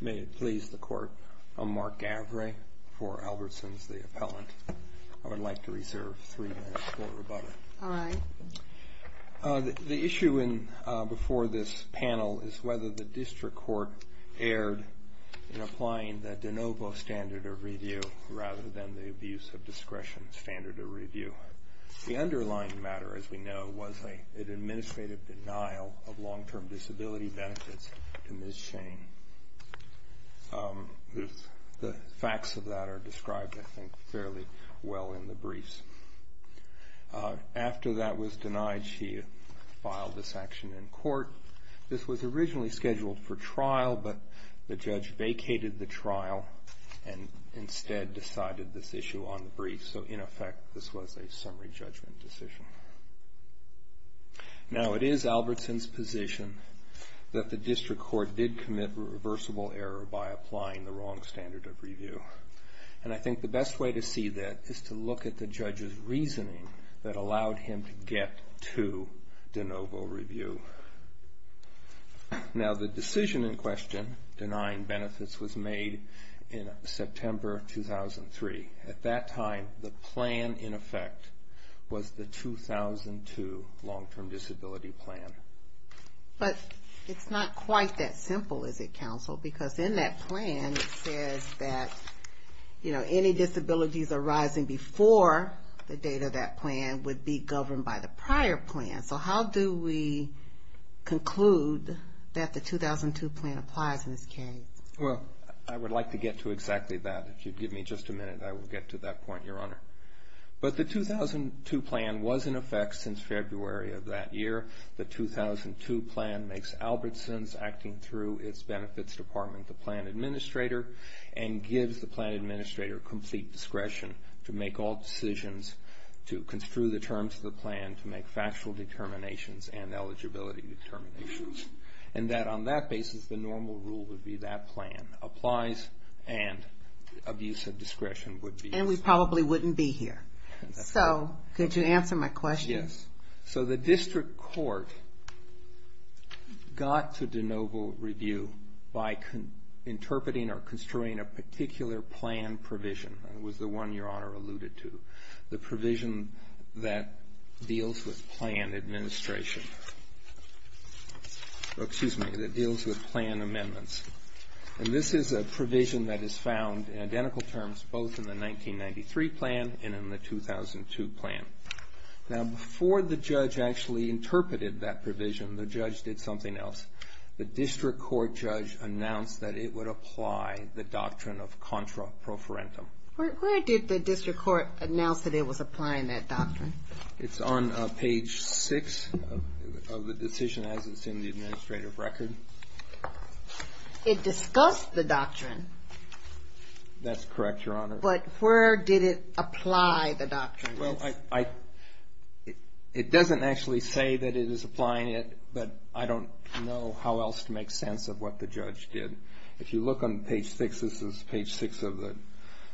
May it please the Court, I'm Mark Gavray for Albertson's, the Appellant. I would like to The issue before this panel is whether the District Court erred in applying the de novo standard of review, rather than the abuse of discretion standard of review. The underlying matter, as we know, was an administrative denial of long-term disability benefits to Ms. Shane. The facts of that are described, I think, fairly well in the briefs. After that was denied, she filed this action in court. This was originally scheduled for trial, but the judge vacated the trial and instead decided this issue on the briefs. So, in effect, this was a summary judgment decision. Now, it is Albertson's position that the District Court did commit a reversible error by applying the wrong standard of review. And I think the best way to see that is to look at the judge's reasoning that allowed him to get to de novo review. Now, the decision in question denying benefits was made in September 2003. At that time, the plan, in effect, was the 2002 long-term disability plan. But it's not quite that simple, is it, counsel? Because in that plan, it says that any disabilities arising before the date of that plan would be governed by the prior plan. So, how do we conclude that the 2002 plan applies in this case? Well, I would like to get to exactly that. If you'd give me just a minute, I will get to that point, Your Honor. But the 2002 plan was in effect since February of that year. The 2002 plan makes Albertson's acting through its benefits department the plan administrator and gives the plan administrator complete discretion to make all decisions, to construe the terms of the plan, to make factual determinations and eligibility determinations. And that on that basis, the normal rule would be that plan applies and abuse of discretion would be. And we probably wouldn't be here. So, could you answer my question? Yes. So, the district court got to de novo review by interpreting or construing a particular plan provision. It was the one Your Honor alluded to. The provision that deals with plan administration. Excuse me. That deals with plan amendments. And this is a provision that is found in identical terms both in the 1993 plan and in the 2002 plan. Now, before the judge actually interpreted that provision, the judge did something else. The district court judge announced that it would apply the doctrine of contra pro forentum. Where did the district court announce that it was applying that doctrine? It's on page 6 of the decision as it's in the administrative record. It discussed the doctrine. That's correct, Your Honor. But where did it apply the doctrine? Well, it doesn't actually say that it is applying it, but I don't know how else to make sense of what the judge did. If you look on page 6, this is page 6 of the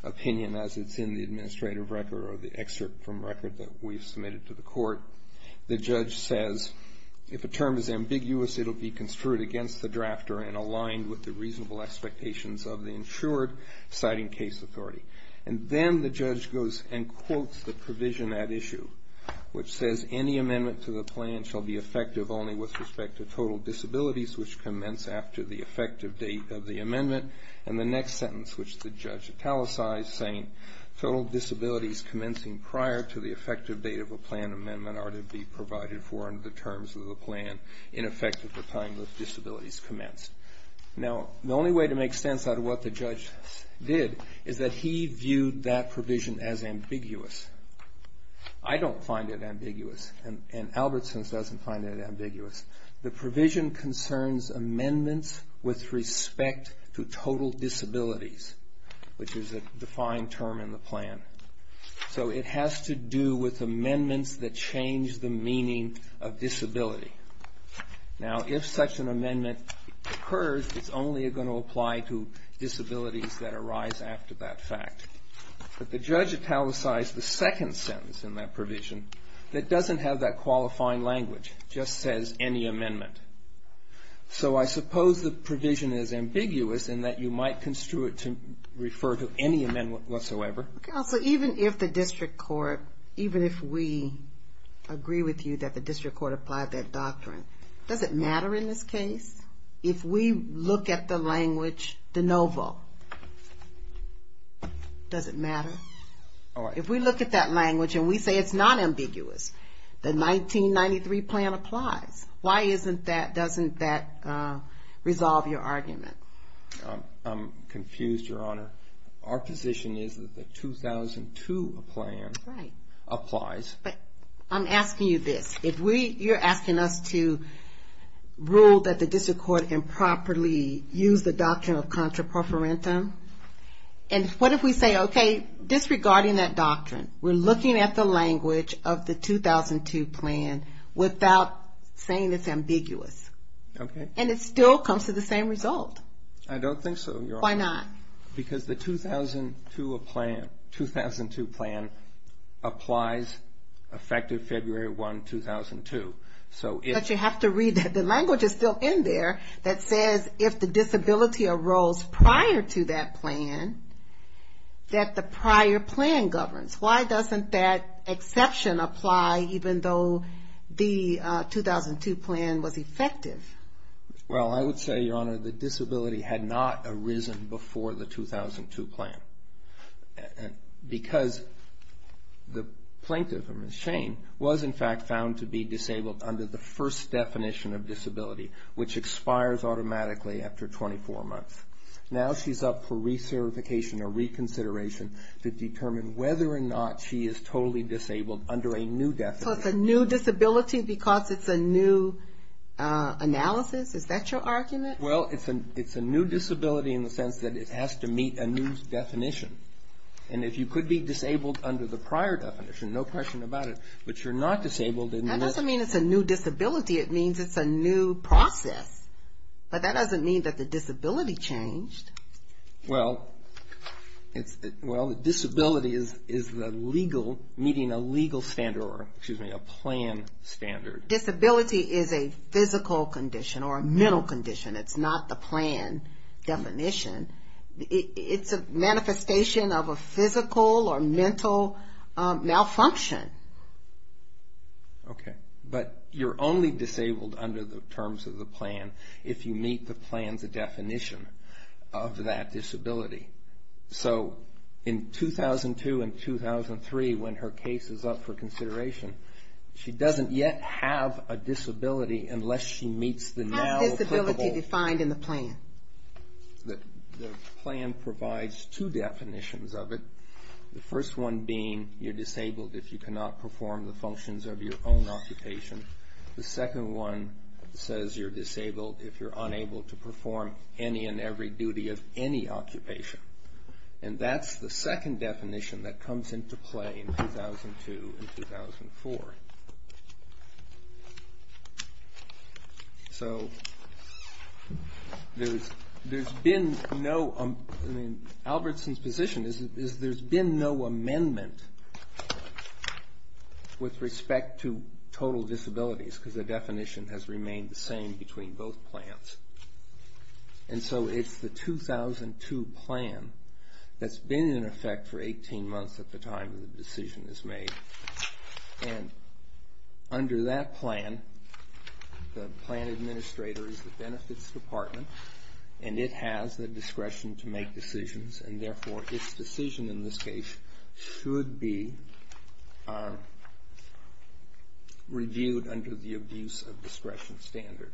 opinion as it's in the administrative record or the excerpt from record that we submitted to the court. The judge says, if a term is ambiguous, it will be construed against the drafter and aligned with the reasonable expectations of the insured citing case authority. And then the judge goes and quotes the provision at issue, which says any amendment to the plan shall be effective only with respect to total disabilities, which commence after the effective date of the amendment. And the next sentence, which the judge italicized, saying total disabilities commencing prior to the effective date of a plan amendment are to be provided for under the terms of the plan in effect at the time that disabilities commence. Now, the only way to make sense out of what the judge did is that he viewed that provision as ambiguous. I don't find it ambiguous. And Albertson's doesn't find it ambiguous. The provision concerns amendments with respect to total disabilities, which is a defined term in the plan. So it has to do with amendments that change the meaning of disability. Now, if such an amendment occurs, it's only going to apply to disabilities that arise after that fact. But the judge italicized the second sentence in that provision that doesn't have that qualifying language, just says any amendment. So I suppose the provision is ambiguous in that you might construe it to refer to any amendment whatsoever. Counsel, even if the district court, even if we agree with you that the district court applied that doctrine, does it matter in this case? If we look at the language de novo, does it matter? If we look at that language and we say it's not ambiguous, the 1993 plan applies, why isn't that, doesn't that resolve your argument? I'm confused, Your Honor. Our position is that the 2002 plan applies. But I'm asking you this. If you're asking us to rule that the district court improperly used the doctrine of contraprofarentum, and what if we say, okay, disregarding that doctrine, we're looking at the language of the 2002 plan without saying it's ambiguous. Okay. And it still comes to the same result. I don't think so, Your Honor. Why not? Because the 2002 plan applies effective February 1, 2002. But you have to read that the language is still in there that says if the disability arose prior to that plan, that the prior plan governs. Why doesn't that exception apply even though the 2002 plan was effective? Well, I would say, Your Honor, the disability had not arisen before the 2002 plan. Because the plaintiff, Ms. Shane, was in fact found to be disabled under the first definition of disability, which expires automatically after 24 months. Now she's up for recertification or reconsideration to determine whether or not she is totally disabled under a new definition. So it's a new disability because it's a new analysis? Is that your argument? Well, it's a new disability in the sense that it has to meet a new definition. And if you could be disabled under the prior definition, no question about it, but you're not disabled in the next. That doesn't mean it's a new disability. It means it's a new process. But that doesn't mean that the disability changed. Well, the disability is the legal, meeting a legal standard, or excuse me, a plan standard. Disability is a physical condition or a mental condition. It's not the plan definition. It's a manifestation of a physical or mental malfunction. Okay. But you're only disabled under the terms of the plan if you meet the plan's definition of that disability. So in 2002 and 2003, when her case is up for consideration, she doesn't yet have a disability unless she meets the now applicable. How is disability defined in the plan? The plan provides two definitions of it. The first one being you're disabled if you cannot perform the functions of your own occupation. The second one says you're disabled if you're unable to perform any and every duty of any occupation. And that's the second definition that comes into play in 2002 and 2004. So there's been no, I mean, Albertson's position is there's been no amendment with respect to total disabilities because the definition has remained the same between both plans. And so it's the 2002 plan that's been in effect for 18 months at the time that the decision is made. And under that plan, the plan administrator is the benefits department. And it has the discretion to make decisions. And therefore, its decision in this case should be reviewed under the abuse of discretion standard.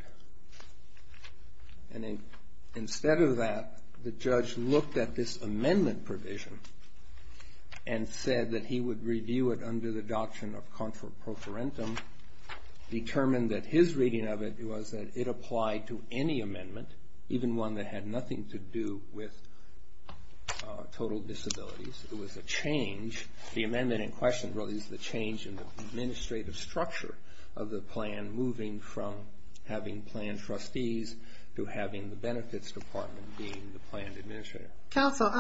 And instead of that, the judge looked at this amendment provision and said that he would review it under the doctrine of contraprofarentum, determined that his reading of it was that it applied to any amendment, even one that had nothing to do with total disabilities. It was a change. The amendment in question really is the change in the administrative structure of the plan moving from having plan trustees to having the benefits department being the plan administrator. Counsel,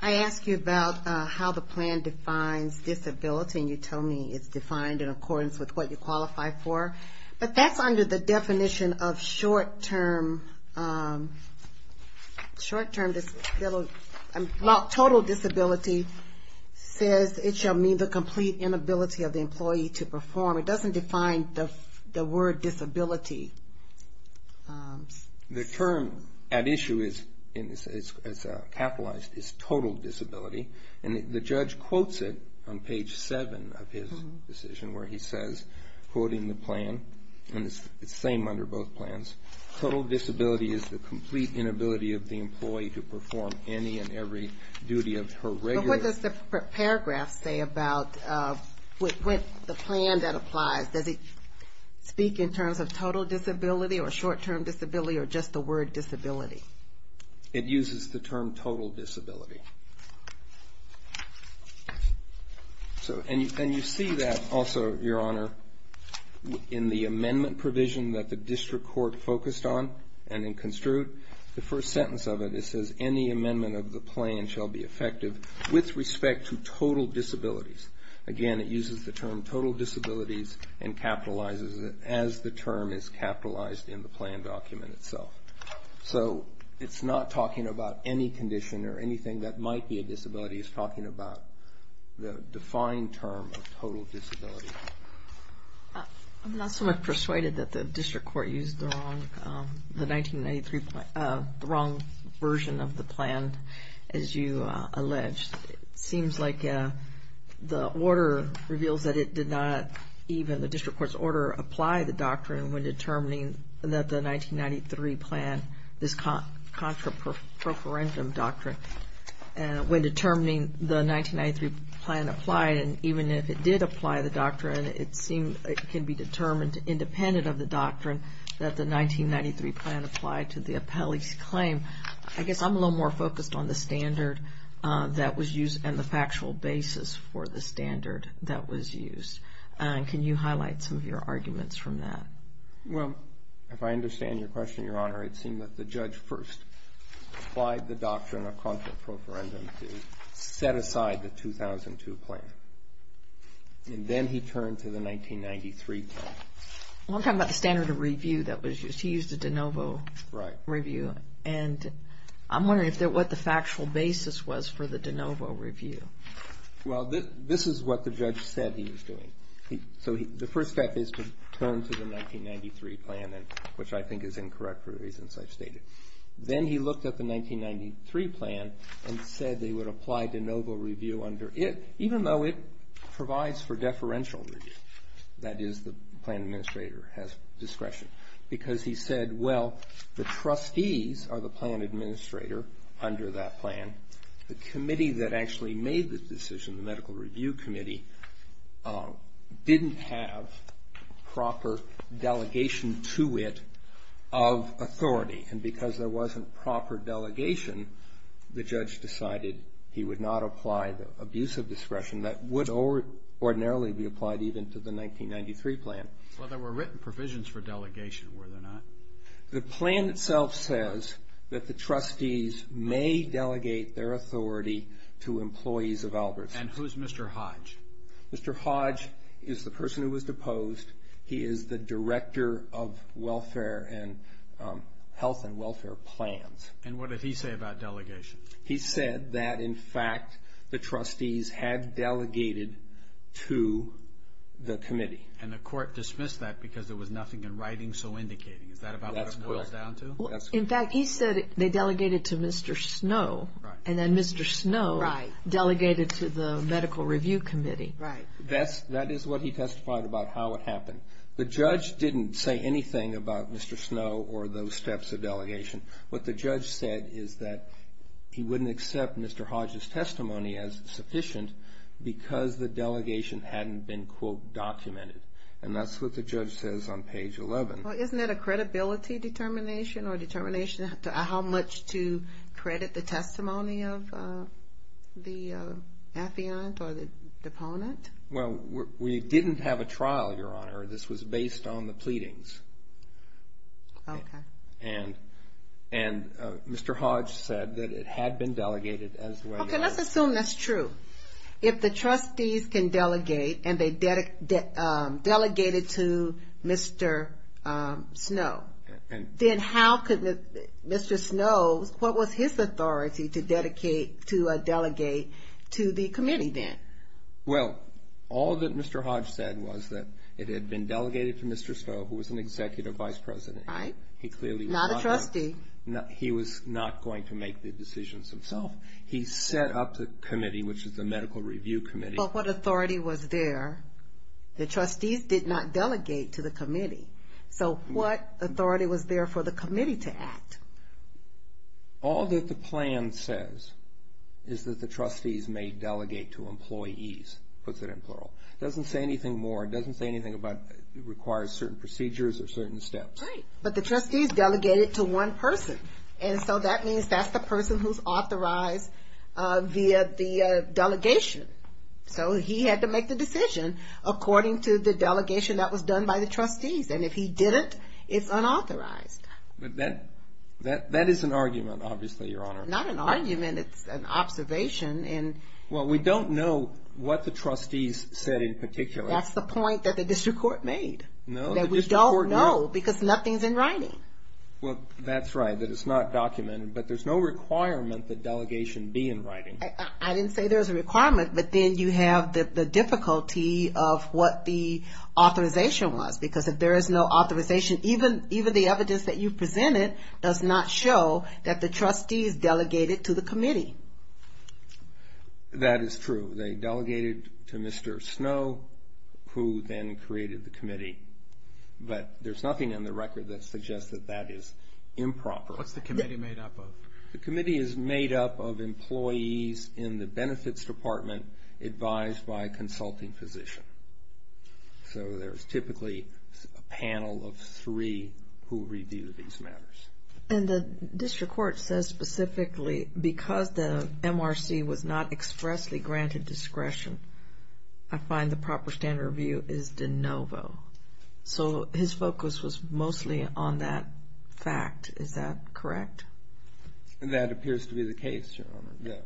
I asked you about how the plan defines disability. And you told me it's defined in accordance with what you qualify for. But that's under the definition of short-term disability. Total disability says it shall mean the complete inability of the employee to perform. It doesn't define the word disability. The term at issue as capitalized is total disability. And the judge quotes it on page 7 of his decision where he says, quoting the plan, and it's the same under both plans, total disability is the complete inability of the employee to perform any and every duty of her regular. But what does the paragraph say about the plan that applies? Does it speak in terms of total disability or short-term disability or just the word disability? It uses the term total disability. And you see that also, Your Honor, in the amendment provision that the district court focused on and in construed, the first sentence of it, it says, any amendment of the plan shall be effective with respect to total disabilities. Again, it uses the term total disabilities and capitalizes it as the term is capitalized in the plan document itself. So it's not talking about any condition or anything that might be a disability. It's talking about the defined term of total disability. I'm not so much persuaded that the district court used the wrong version of the plan, as you alleged. It seems like the order reveals that it did not, even the district court's order, apply the doctrine when determining that the 1993 plan, this contra-procurement doctrine, when determining the 1993 plan applied, and even if it did apply the doctrine, it can be determined independent of the doctrine that the 1993 plan applied to the appellee's claim. I guess I'm a little more focused on the standard that was used and the factual basis for the standard that was used. Can you highlight some of your arguments from that? Well, if I understand your question, Your Honor, it seemed that the judge first applied the doctrine of contra-procurement to set aside the 2002 plan, and then he turned to the 1993 plan. I want to talk about the standard of review that was used. He used a de novo review, and I'm wondering what the factual basis was for the de novo review. Well, this is what the judge said he was doing. The first step is to turn to the 1993 plan, which I think is incorrect for the reasons I've stated. Then he looked at the 1993 plan and said they would apply de novo review under it, even though it provides for deferential review. That is, the plan administrator has discretion. Because he said, well, the trustees are the plan administrator under that plan. The committee that actually made the decision, the medical review committee, didn't have proper delegation to it of authority. And because there wasn't proper delegation, the judge decided he would not apply the abuse of discretion that would ordinarily be applied even to the 1993 plan. Well, there were written provisions for delegation, were there not? The plan itself says that the trustees may delegate their authority to employees of Albertsons. And who's Mr. Hodge? Mr. Hodge is the person who was deposed. He is the director of welfare and health and welfare plans. And what did he say about delegation? He said that, in fact, the trustees had delegated to the committee. And the court dismissed that because there was nothing in writing so indicating. Is that about what it boils down to? In fact, he said they delegated to Mr. Snow. And then Mr. Snow delegated to the medical review committee. Right. That is what he testified about how it happened. The judge didn't say anything about Mr. Snow or those steps of delegation. What the judge said is that he wouldn't accept Mr. Hodge's testimony as sufficient because the delegation hadn't been, quote, documented. And that's what the judge says on page 11. Well, isn't that a credibility determination or determination how much to credit the testimony of the affiant or the deponent? Well, we didn't have a trial, Your Honor. This was based on the pleadings. Okay. And Mr. Hodge said that it had been delegated as well. Okay, let's assume that's true. If the trustees can delegate and they delegated to Mr. Snow, then how could Mr. Snow, what was his authority to delegate to the committee then? Well, all that Mr. Hodge said was that it had been delegated to Mr. Snow, who was an executive vice president. Right. Not a trustee. He was not going to make the decisions himself. He set up the committee, which is the medical review committee. But what authority was there? The trustees did not delegate to the committee. So what authority was there for the committee to act? All that the plan says is that the trustees may delegate to employees, puts it in plural. It doesn't say anything more. It doesn't say anything about it requires certain procedures or certain steps. Right. But the trustees delegated to one person. And so that means that's the person who's authorized via the delegation. So he had to make the decision according to the delegation that was done by the trustees. And if he didn't, it's unauthorized. But that is an argument, obviously, Your Honor. Not an argument. It's an observation. Well, we don't know what the trustees said in particular. That's the point that the district court made. No? That we don't know because nothing's in writing. Well, that's right, that it's not documented. But there's no requirement that delegation be in writing. I didn't say there was a requirement. But then you have the difficulty of what the authorization was. Because if there is no authorization, even the evidence that you presented does not show that the trustees delegated to the committee. That is true. They delegated to Mr. Snow, who then created the committee. But there's nothing in the record that suggests that that is improper. What's the committee made up of? The committee is made up of employees in the benefits department advised by a consulting physician. So there's typically a panel of three who review these matters. And the district court says specifically because the MRC was not expressly granted discretion, I find the proper standard of review is de novo. So his focus was mostly on that fact. Is that correct? That appears to be the case, Your Honor.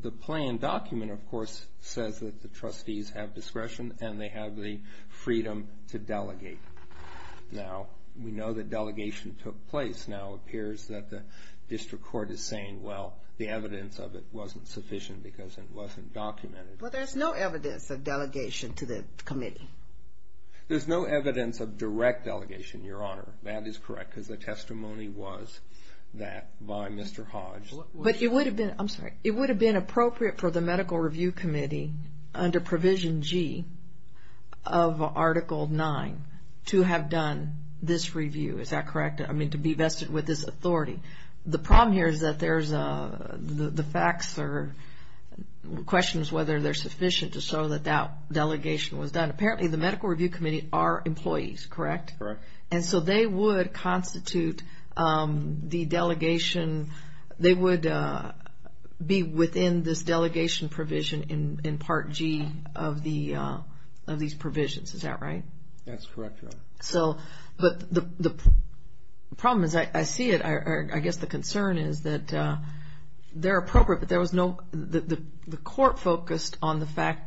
The plan document, of course, says that the trustees have discretion and they have the freedom to delegate. Now, we know that delegation took place. Now it appears that the district court is saying, well, the evidence of it wasn't sufficient because it wasn't documented. Well, there's no evidence of delegation to the committee. There's no evidence of direct delegation, Your Honor. That is correct because the testimony was that by Mr. Hodge. But it would have been appropriate for the medical review committee under Provision G of Article 9 to have done this review. Is that correct? I mean, to be vested with this authority. The problem here is that there's the facts or questions whether they're sufficient to show that that delegation was done. Apparently the medical review committee are employees, correct? Correct. And so they would constitute the delegation. They would be within this delegation provision in Part G of these provisions. Is that right? That's correct, Your Honor. But the problem is I see it. I guess the concern is that they're appropriate, but there was no the court focused on the fact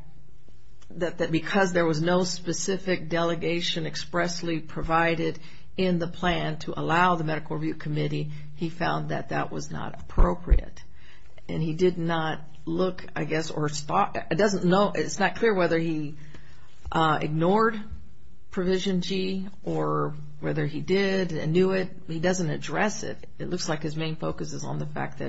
that because there was no specific delegation expressly provided in the plan to allow the medical review committee, he found that that was not appropriate. And he did not look, I guess, or it's not clear whether he ignored Provision G or whether he did and knew it. He doesn't address it. It looks like his main focus is on the fact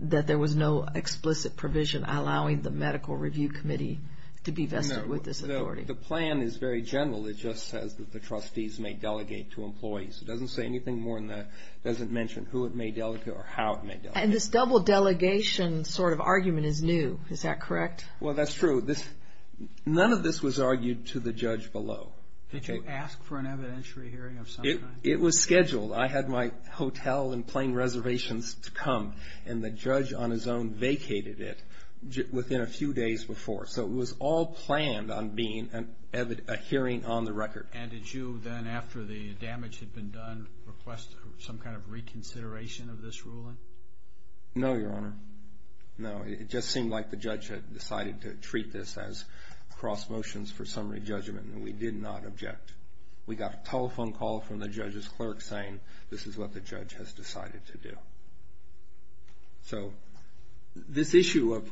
that there was no explicit provision allowing the medical review committee to be vested with this authority. The plan is very general. It just says that the trustees may delegate to employees. It doesn't say anything more than that. It doesn't mention who it may delegate or how it may delegate. And this double delegation sort of argument is new. Is that correct? Well, that's true. None of this was argued to the judge below. Did you ask for an evidentiary hearing of some kind? It was scheduled. I had my hotel and plane reservations to come, and the judge on his own vacated it within a few days before. So it was all planned on being a hearing on the record. And did you then, after the damage had been done, request some kind of reconsideration of this ruling? No, Your Honor. No. It just seemed like the judge had decided to treat this as cross motions for summary judgment, and we did not object. We got a telephone call from the judge's clerk saying this is what the judge has decided to do. So this issue of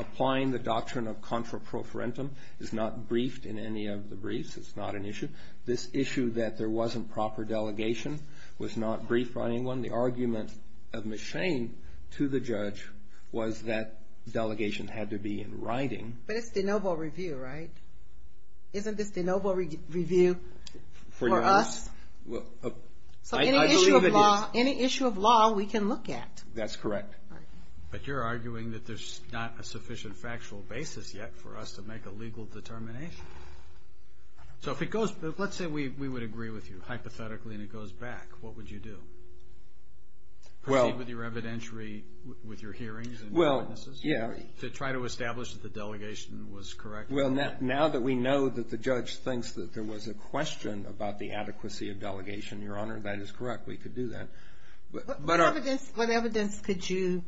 applying the doctrine of contra pro forentum is not briefed in any of the briefs. It's not an issue. This issue that there wasn't proper delegation was not briefed by anyone. The argument of Ms. Shane to the judge was that delegation had to be in writing. But it's de novo review, right? Isn't this de novo review for us? So any issue of law we can look at. That's correct. But you're arguing that there's not a sufficient factual basis yet for us to make a legal determination. So let's say we would agree with you, hypothetically, and it goes back. What would you do? Proceed with your evidentiary, with your hearings and witnesses to try to establish that the delegation was correct? Well, now that we know that the judge thinks that there was a question about the adequacy of delegation, Your Honor, that is correct. We could do that. What evidence could you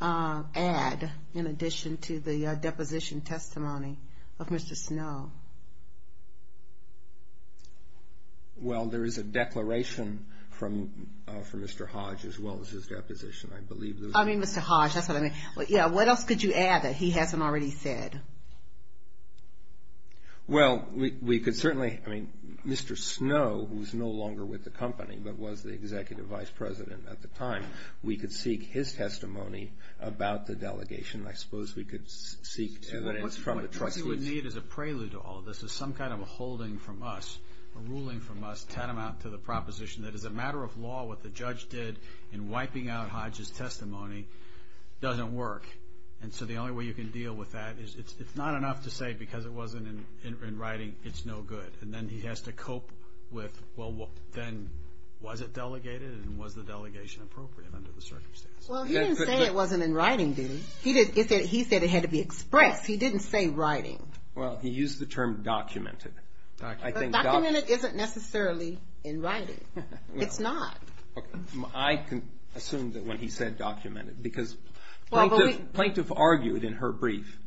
add in addition to the deposition testimony of Mr. Snow? Well, there is a declaration from Mr. Hodge as well as his deposition, I believe. I mean Mr. Hodge. What else could you add that he hasn't already said? Well, we could certainly. I mean, Mr. Snow, who's no longer with the company but was the executive vice president at the time, we could seek his testimony about the delegation. I suppose we could seek evidence from the trustees. What you would need as a prelude to all of this is some kind of a holding from us, a ruling from us, that is a matter of law what the judge did in wiping out Hodge's testimony doesn't work. And so the only way you can deal with that is it's not enough to say because it wasn't in writing, it's no good. And then he has to cope with, well, then was it delegated and was the delegation appropriate under the circumstances? Well, he didn't say it wasn't in writing, did he? He said it had to be expressed. He didn't say writing. Well, he used the term documented. Documented isn't necessarily in writing. It's not. I can assume that when he said documented because Plaintiff argued in her brief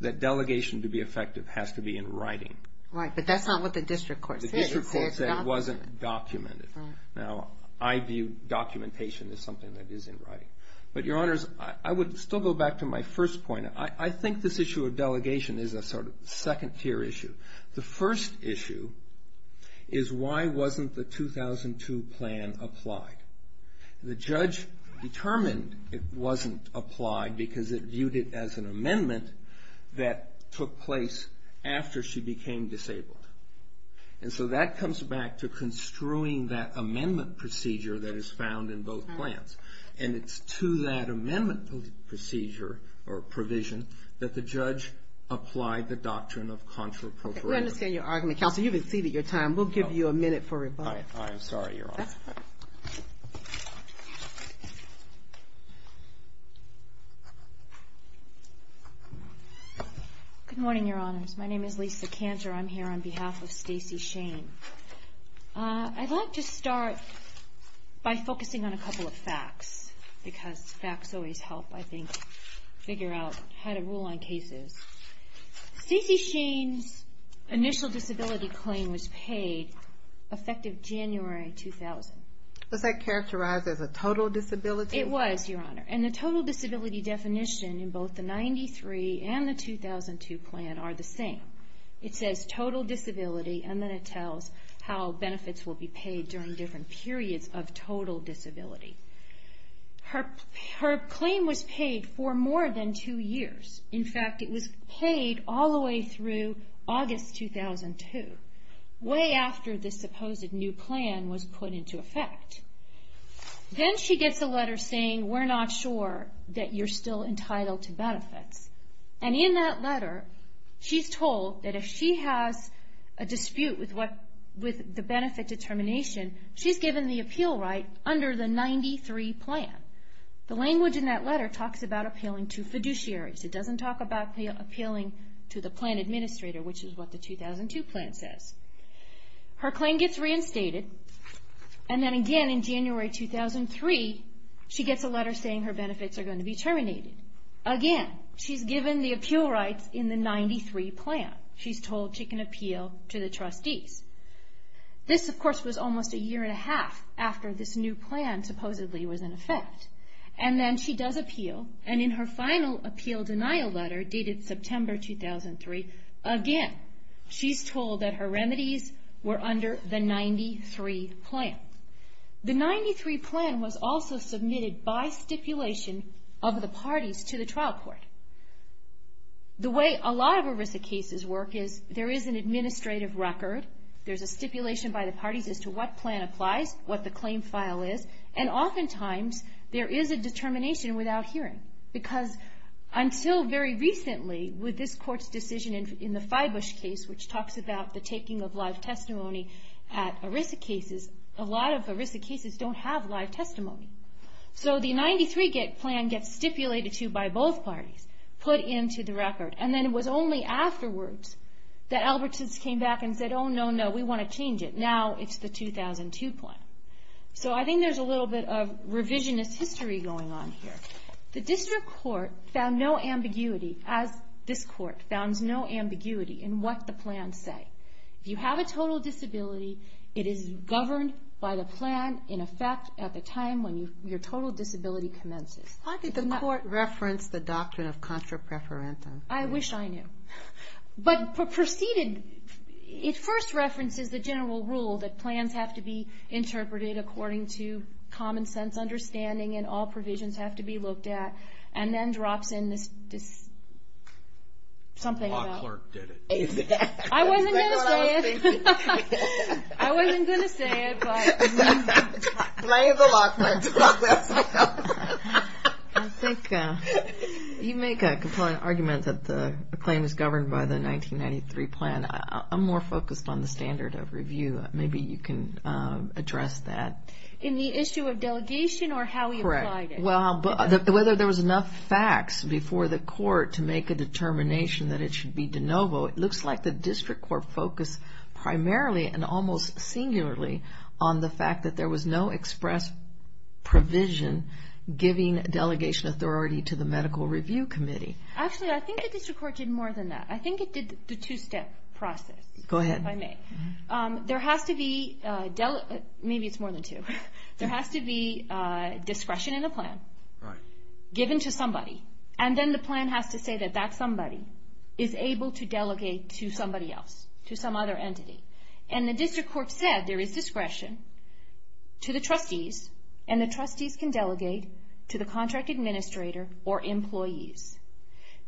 that delegation to be effective has to be in writing. Right, but that's not what the district court said. The district court said it wasn't documented. Now, I view documentation as something that is in writing. But, Your Honors, I would still go back to my first point. I think this issue of delegation is a sort of second tier issue. The first issue is why wasn't the 2002 plan applied? The judge determined it wasn't applied because it viewed it as an amendment that took place after she became disabled. And so that comes back to construing that amendment procedure that is found in both plans. And it's to that amendment procedure or provision that the judge applied the doctrine of contrappropriation. Okay, we understand your argument. Counsel, you've exceeded your time. We'll give you a minute for rebuttal. I'm sorry, Your Honor. That's fine. Good morning, Your Honors. My name is Lisa Cantor. I'm here on behalf of Stacey Shane. I'd like to start by focusing on a couple of facts because facts always help, I think, figure out how to rule on cases. Stacey Shane's initial disability claim was paid effective January 2000. Was that characterized as a total disability? It was, Your Honor. And the total disability definition in both the 93 and the 2002 plan are the same. It says total disability, and then it tells how benefits will be paid during different periods of total disability. Her claim was paid for more than two years. In fact, it was paid all the way through August 2002, way after this supposed new plan was put into effect. Then she gets a letter saying, we're not sure that you're still entitled to benefits. And in that letter, she's told that if she has a dispute with the benefit determination, she's given the appeal right under the 93 plan. The language in that letter talks about appealing to fiduciaries. It doesn't talk about appealing to the plan administrator, which is what the 2002 plan says. Her claim gets reinstated, and then again in January 2003, she gets a letter saying her benefits are going to be terminated. Again, she's given the appeal rights in the 93 plan. She's told she can appeal to the trustees. This, of course, was almost a year and a half after this new plan supposedly was in effect. And then she does appeal, and in her final appeal denial letter, dated September 2003, again she's told that her remedies were under the 93 plan. The 93 plan was also submitted by stipulation of the parties to the trial court. The way a lot of ERISA cases work is there is an administrative record. There's a stipulation by the parties as to what plan applies, what the claim file is, and oftentimes there is a determination without hearing. Because until very recently, with this court's decision in the Fibush case, which talks about the taking of live testimony at ERISA cases, a lot of ERISA cases don't have live testimony. So the 93 plan gets stipulated to by both parties, put into the record. And then it was only afterwards that Albertsons came back and said, oh, no, no, we want to change it. Now it's the 2002 plan. So I think there's a little bit of revisionist history going on here. The district court found no ambiguity, as this court found no ambiguity, in what the plans say. If you have a total disability, it is governed by the plan, in effect, at the time when your total disability commences. How did the court reference the doctrine of contra preferentum? I wish I knew. I think you make a compliant argument that the claim is governed by the 1993 plan. I'm more focused on the standard of review. Maybe you can address that. In the issue of delegation or how we applied it? Correct. Well, whether there was enough facts before the court to make a determination that it should be de novo, it looks like the district court focused primarily and almost singularly on the fact that there was no express provision giving delegation authority to the medical review committee. Actually, I think the district court did more than that. I think it did the two-step process, if I may. Maybe it's more than two. There has to be discretion in the plan given to somebody, and then the plan has to say that that somebody is able to delegate to somebody else, to some other entity. And the district court said there is discretion to the trustees, and the trustees can delegate to the contract administrator or employees.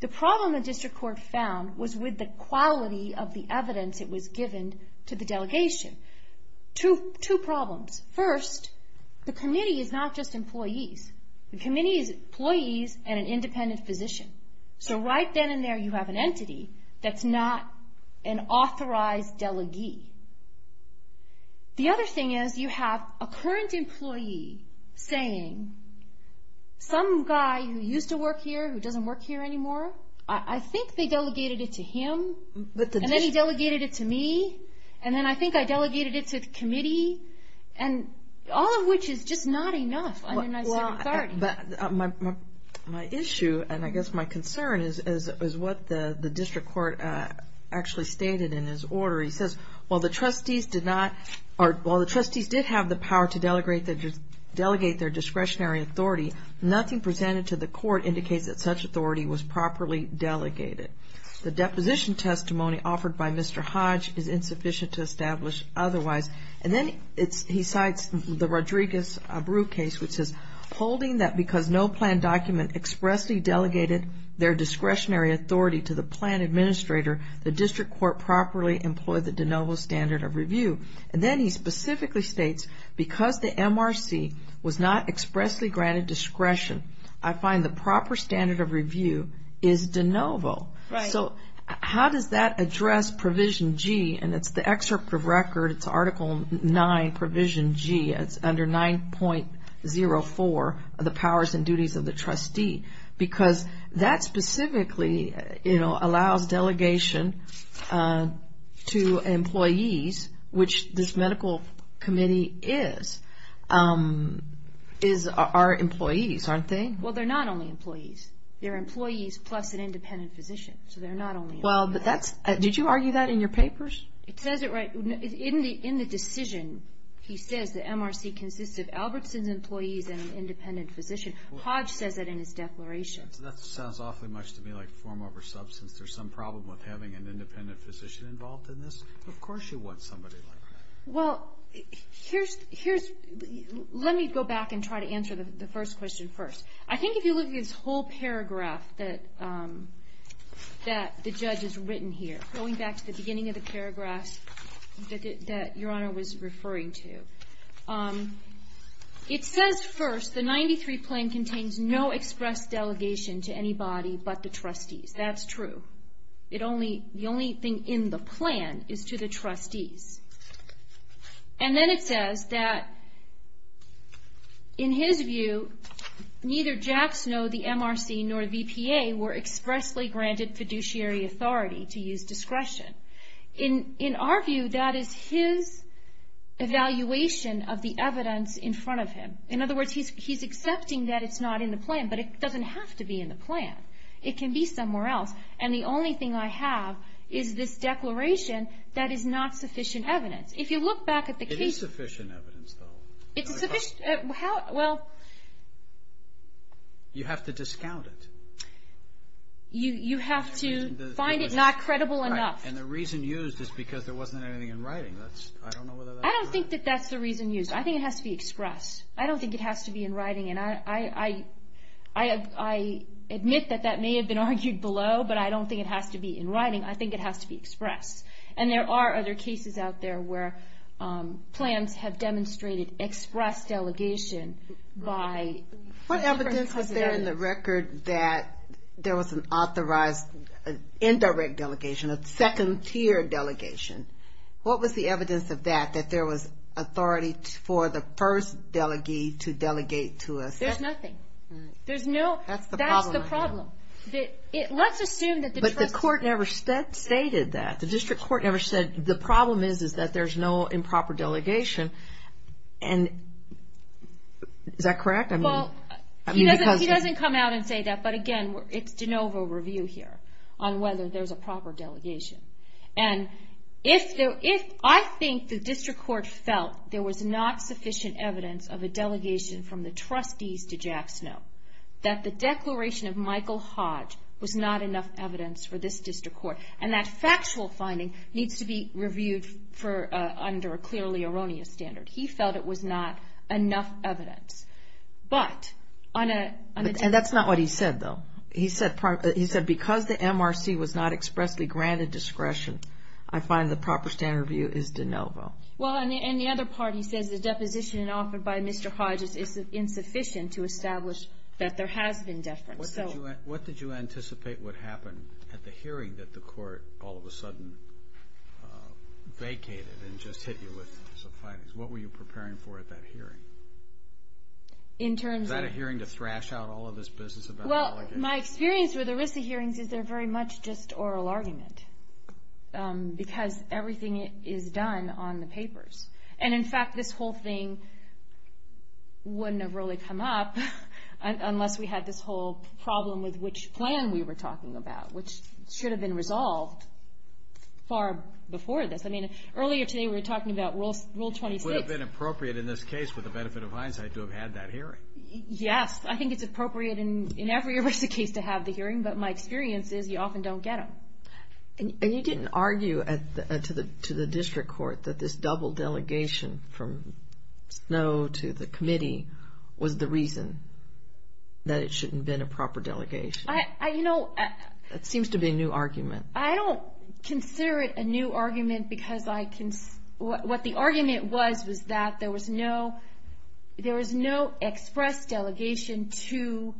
The problem the district court found was with the quality of the evidence that was given to the delegation. Two problems. First, the committee is not just employees. The committee is employees and an independent physician. So right then and there you have an entity that's not an authorized delegee. The other thing is you have a current employee saying, some guy who used to work here who doesn't work here anymore, I think they delegated it to him, and then he delegated it to me, and then I think I delegated it to the committee, and all of which is just not enough under my circumstance. My issue and I guess my concern is what the district court actually stated in his order. He says, while the trustees did have the power to delegate their discretionary authority, nothing presented to the court indicates that such authority was properly delegated. The deposition testimony offered by Mr. Hodge is insufficient to establish otherwise. And then he cites the Rodriguez-Abreu case, which says, holding that because no plan document expressly delegated their discretionary authority to the plan administrator, the district court properly employed the de novo standard of review. And then he specifically states, because the MRC was not expressly granted discretion, I find the proper standard of review is de novo. So how does that address Provision G? And it's the excerpt of record, it's Article 9, Provision G. It's under 9.04, the powers and duties of the trustee. Because that specifically, you know, allows delegation to employees, which this medical committee is, is our employees, aren't they? Well, they're not only employees. They're employees plus an independent physician. So they're not only employees. Well, did you argue that in your papers? It says it right in the decision. He says the MRC consists of Albertson's employees and an independent physician. Hodge says that in his declaration. That sounds awfully much to me like form over substance. There's some problem with having an independent physician involved in this. Of course you want somebody like that. Well, here's the ‑‑ let me go back and try to answer the first question first. I think if you look at this whole paragraph that the judge has written here, going back to the beginning of the paragraphs that Your Honor was referring to, it says first, the 93 plan contains no express delegation to anybody but the trustees. That's true. The only thing in the plan is to the trustees. And then it says that in his view, neither Jackson or the MRC nor the VPA were expressly granted fiduciary authority to use discretion. In our view, that is his evaluation of the evidence in front of him. In other words, he's accepting that it's not in the plan, but it doesn't have to be in the plan. It can be somewhere else. And the only thing I have is this declaration that is not sufficient evidence. If you look back at the case ‑‑ It is sufficient evidence, though. It's sufficient ‑‑ well. You have to discount it. You have to find it not credible enough. And the reason used is because there wasn't anything in writing. I don't know whether that's right. I don't think that that's the reason used. I think it has to be expressed. I don't think it has to be in writing. And I admit that that may have been argued below, but I don't think it has to be in writing. I think it has to be expressed. And there are other cases out there where plans have demonstrated express delegation by different trustees. What evidence was there in the record that there was an authorized indirect delegation, a second tier delegation? What was the evidence of that, that there was authority for the first delegee to delegate to a second? There's nothing. That's the problem. That's the problem. Let's assume that the trustee ‑‑ But the court never stated that. The district court never said the problem is that there's no improper delegation. And is that correct? He doesn't come out and say that, but, again, it's de novo review here on whether there's a proper delegation. And if I think the district court felt there was not sufficient evidence of a delegation from the trustees to Jack Snow, that the declaration of Michael Hodge was not enough evidence for this district court, and that factual finding needs to be reviewed under a clearly erroneous standard. He felt it was not enough evidence. But on a ‑‑ And that's not what he said, though. He said because the MRC was not expressly granted discretion, I find the proper standard review is de novo. Well, and the other part, he says the deposition offered by Mr. Hodge is insufficient to establish that there has been deference. What did you anticipate would happen at the hearing that the court all of a sudden vacated and just hit you with some findings? What were you preparing for at that hearing? In terms of ‑‑ Was that a hearing to thrash out all of this business of delegation? Well, my experience with ERISA hearings is they're very much just oral argument because everything is done on the papers. And, in fact, this whole thing wouldn't have really come up unless we had this whole problem with which plan we were talking about, which should have been resolved far before this. I mean, earlier today we were talking about Rule 26. It would have been appropriate in this case, with the benefit of hindsight, to have had that hearing. Yes, I think it's appropriate in every ERISA case to have the hearing, but my experience is you often don't get them. And you didn't argue to the district court that this double delegation from Snow to the committee was the reason that it shouldn't have been a proper delegation. I, you know ‑‑ It seems to be a new argument. I don't consider it a new argument because I ‑‑ what the argument was was that there was no express delegation to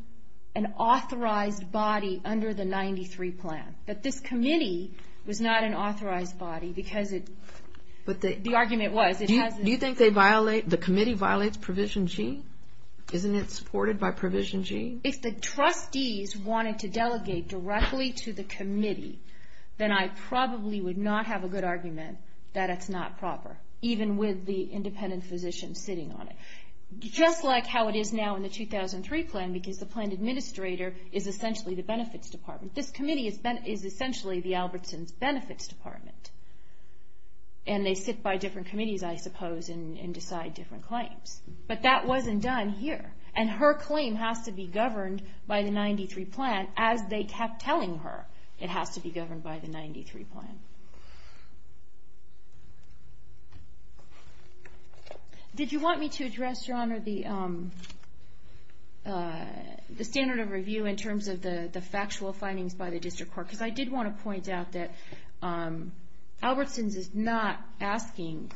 an authorized body under the 93 plan. That this committee was not an authorized body because it ‑‑ the argument was it hasn't ‑‑ Do you think they violate ‑‑ the committee violates Provision G? Isn't it supported by Provision G? If the trustees wanted to delegate directly to the committee, then I probably would not have a good argument that it's not proper, even with the independent physician sitting on it. Just like how it is now in the 2003 plan because the plan administrator is essentially the benefits department. This committee is essentially the Albertson's benefits department. And they sit by different committees, I suppose, and decide different claims. But that wasn't done here. And her claim has to be governed by the 93 plan as they kept telling her it has to be governed by the 93 plan. Did you want me to address, Your Honor, the standard of review in terms of the factual findings by the district court? Because I did want to point out that Albertson's is not asking,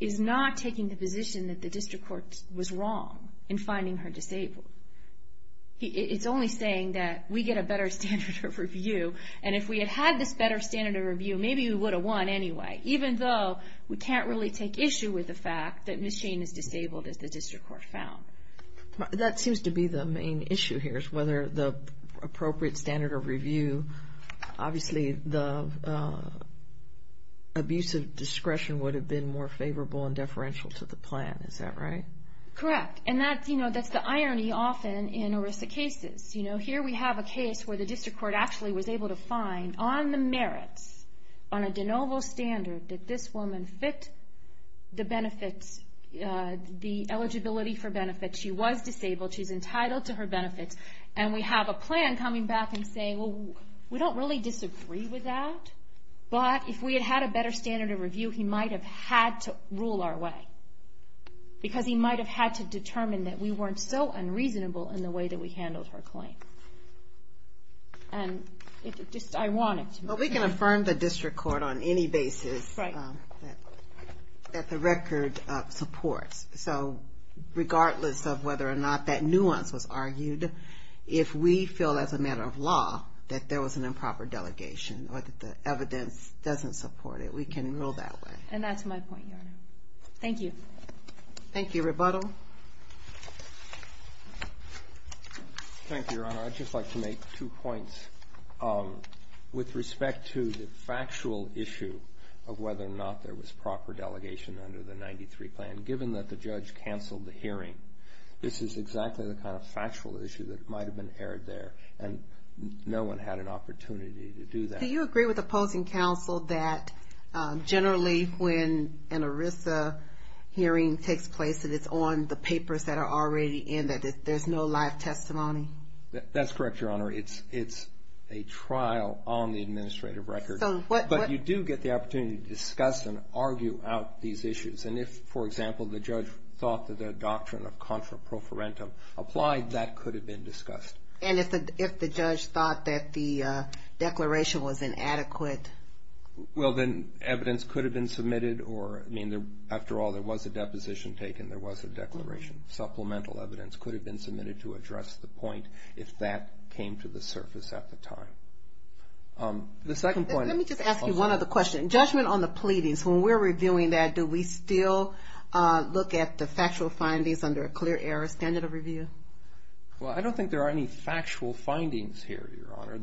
is not taking the position that the district court was wrong in finding her disabled. It's only saying that we get a better standard of review. And if we had had this better standard of review, maybe we would have won anyway, even though we can't really take issue with the fact that Ms. Shane is disabled as the district court found. That seems to be the main issue here is whether the appropriate standard of review, obviously the abuse of discretion would have been more favorable and deferential to the plan. Is that right? Correct. And that's the irony often in ERISA cases. Here we have a case where the district court actually was able to find on the merits, on a de novo standard that this woman fit the benefits, the eligibility for benefits. She was disabled. She's entitled to her benefits. And we have a plan coming back and saying, well, we don't really disagree with that, but if we had had a better standard of review, he might have had to rule our way because he might have had to determine that we weren't so unreasonable in the way that we handled her claim. And it's just ironic. Well, we can affirm the district court on any basis that the record supports. So regardless of whether or not that nuance was argued, if we feel as a matter of law that there was an improper delegation or that the evidence doesn't support it, we can rule that way. And that's my point, Your Honor. Thank you. Thank you. Rebuttal? Thank you, Your Honor. Your Honor, I'd just like to make two points. With respect to the factual issue of whether or not there was proper delegation under the 93 plan, given that the judge canceled the hearing, this is exactly the kind of factual issue that might have been aired there, and no one had an opportunity to do that. Do you agree with opposing counsel that generally when an ERISA hearing takes place that it's on the papers that are already in, that there's no live testimony? That's correct, Your Honor. It's a trial on the administrative record. But you do get the opportunity to discuss and argue out these issues. And if, for example, the judge thought that the doctrine of contra pro forentum applied, that could have been discussed. And if the judge thought that the declaration was inadequate? Well, then evidence could have been submitted or, I mean, after all, there was a deposition taken, there was a declaration. Supplemental evidence could have been submitted to address the point, if that came to the surface at the time. The second point. Let me just ask you one other question. Judgment on the pleadings, when we're reviewing that, do we still look at the factual findings under a clear error standard of review? Well, I don't think there are any factual findings here, Your Honor,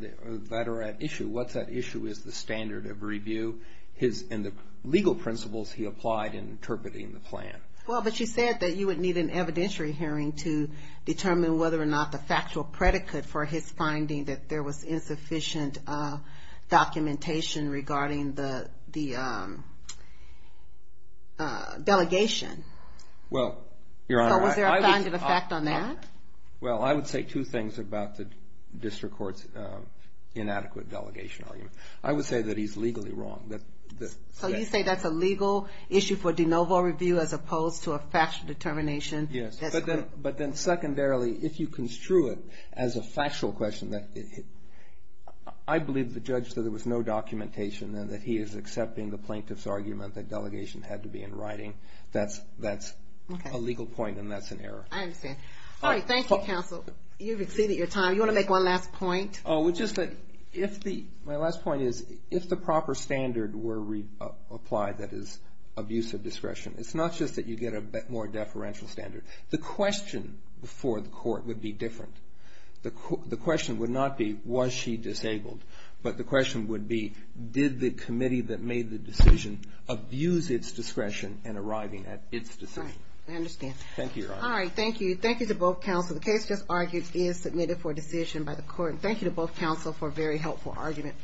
that are at issue. What's at issue is the standard of review. And the legal principles he applied in interpreting the plan. Well, but you said that you would need an evidentiary hearing to determine whether or not the factual predicate for his finding that there was insufficient documentation regarding the delegation. Well, Your Honor, I would say two things about the district court's inadequate delegation argument. I would say that he's legally wrong. So you say that's a legal issue for de novo review as opposed to a factual determination? Yes. But then secondarily, if you construe it as a factual question, I believe the judge said there was no documentation and that he is accepting the plaintiff's argument that delegation had to be in writing. That's a legal point and that's an error. I understand. All right. Thank you, counsel. You've exceeded your time. You want to make one last point? My last point is, if the proper standard were applied, that is, abuse of discretion, it's not just that you get a more deferential standard. The question before the court would be different. The question would not be, was she disabled? But the question would be, did the committee that made the decision abuse its discretion in arriving at its decision? I understand. Thank you, Your Honor. All right. Thank you. Thank you to both counsel. The case just argued is submitted for decision by the court. Thank you to both counsel for a very helpful argument.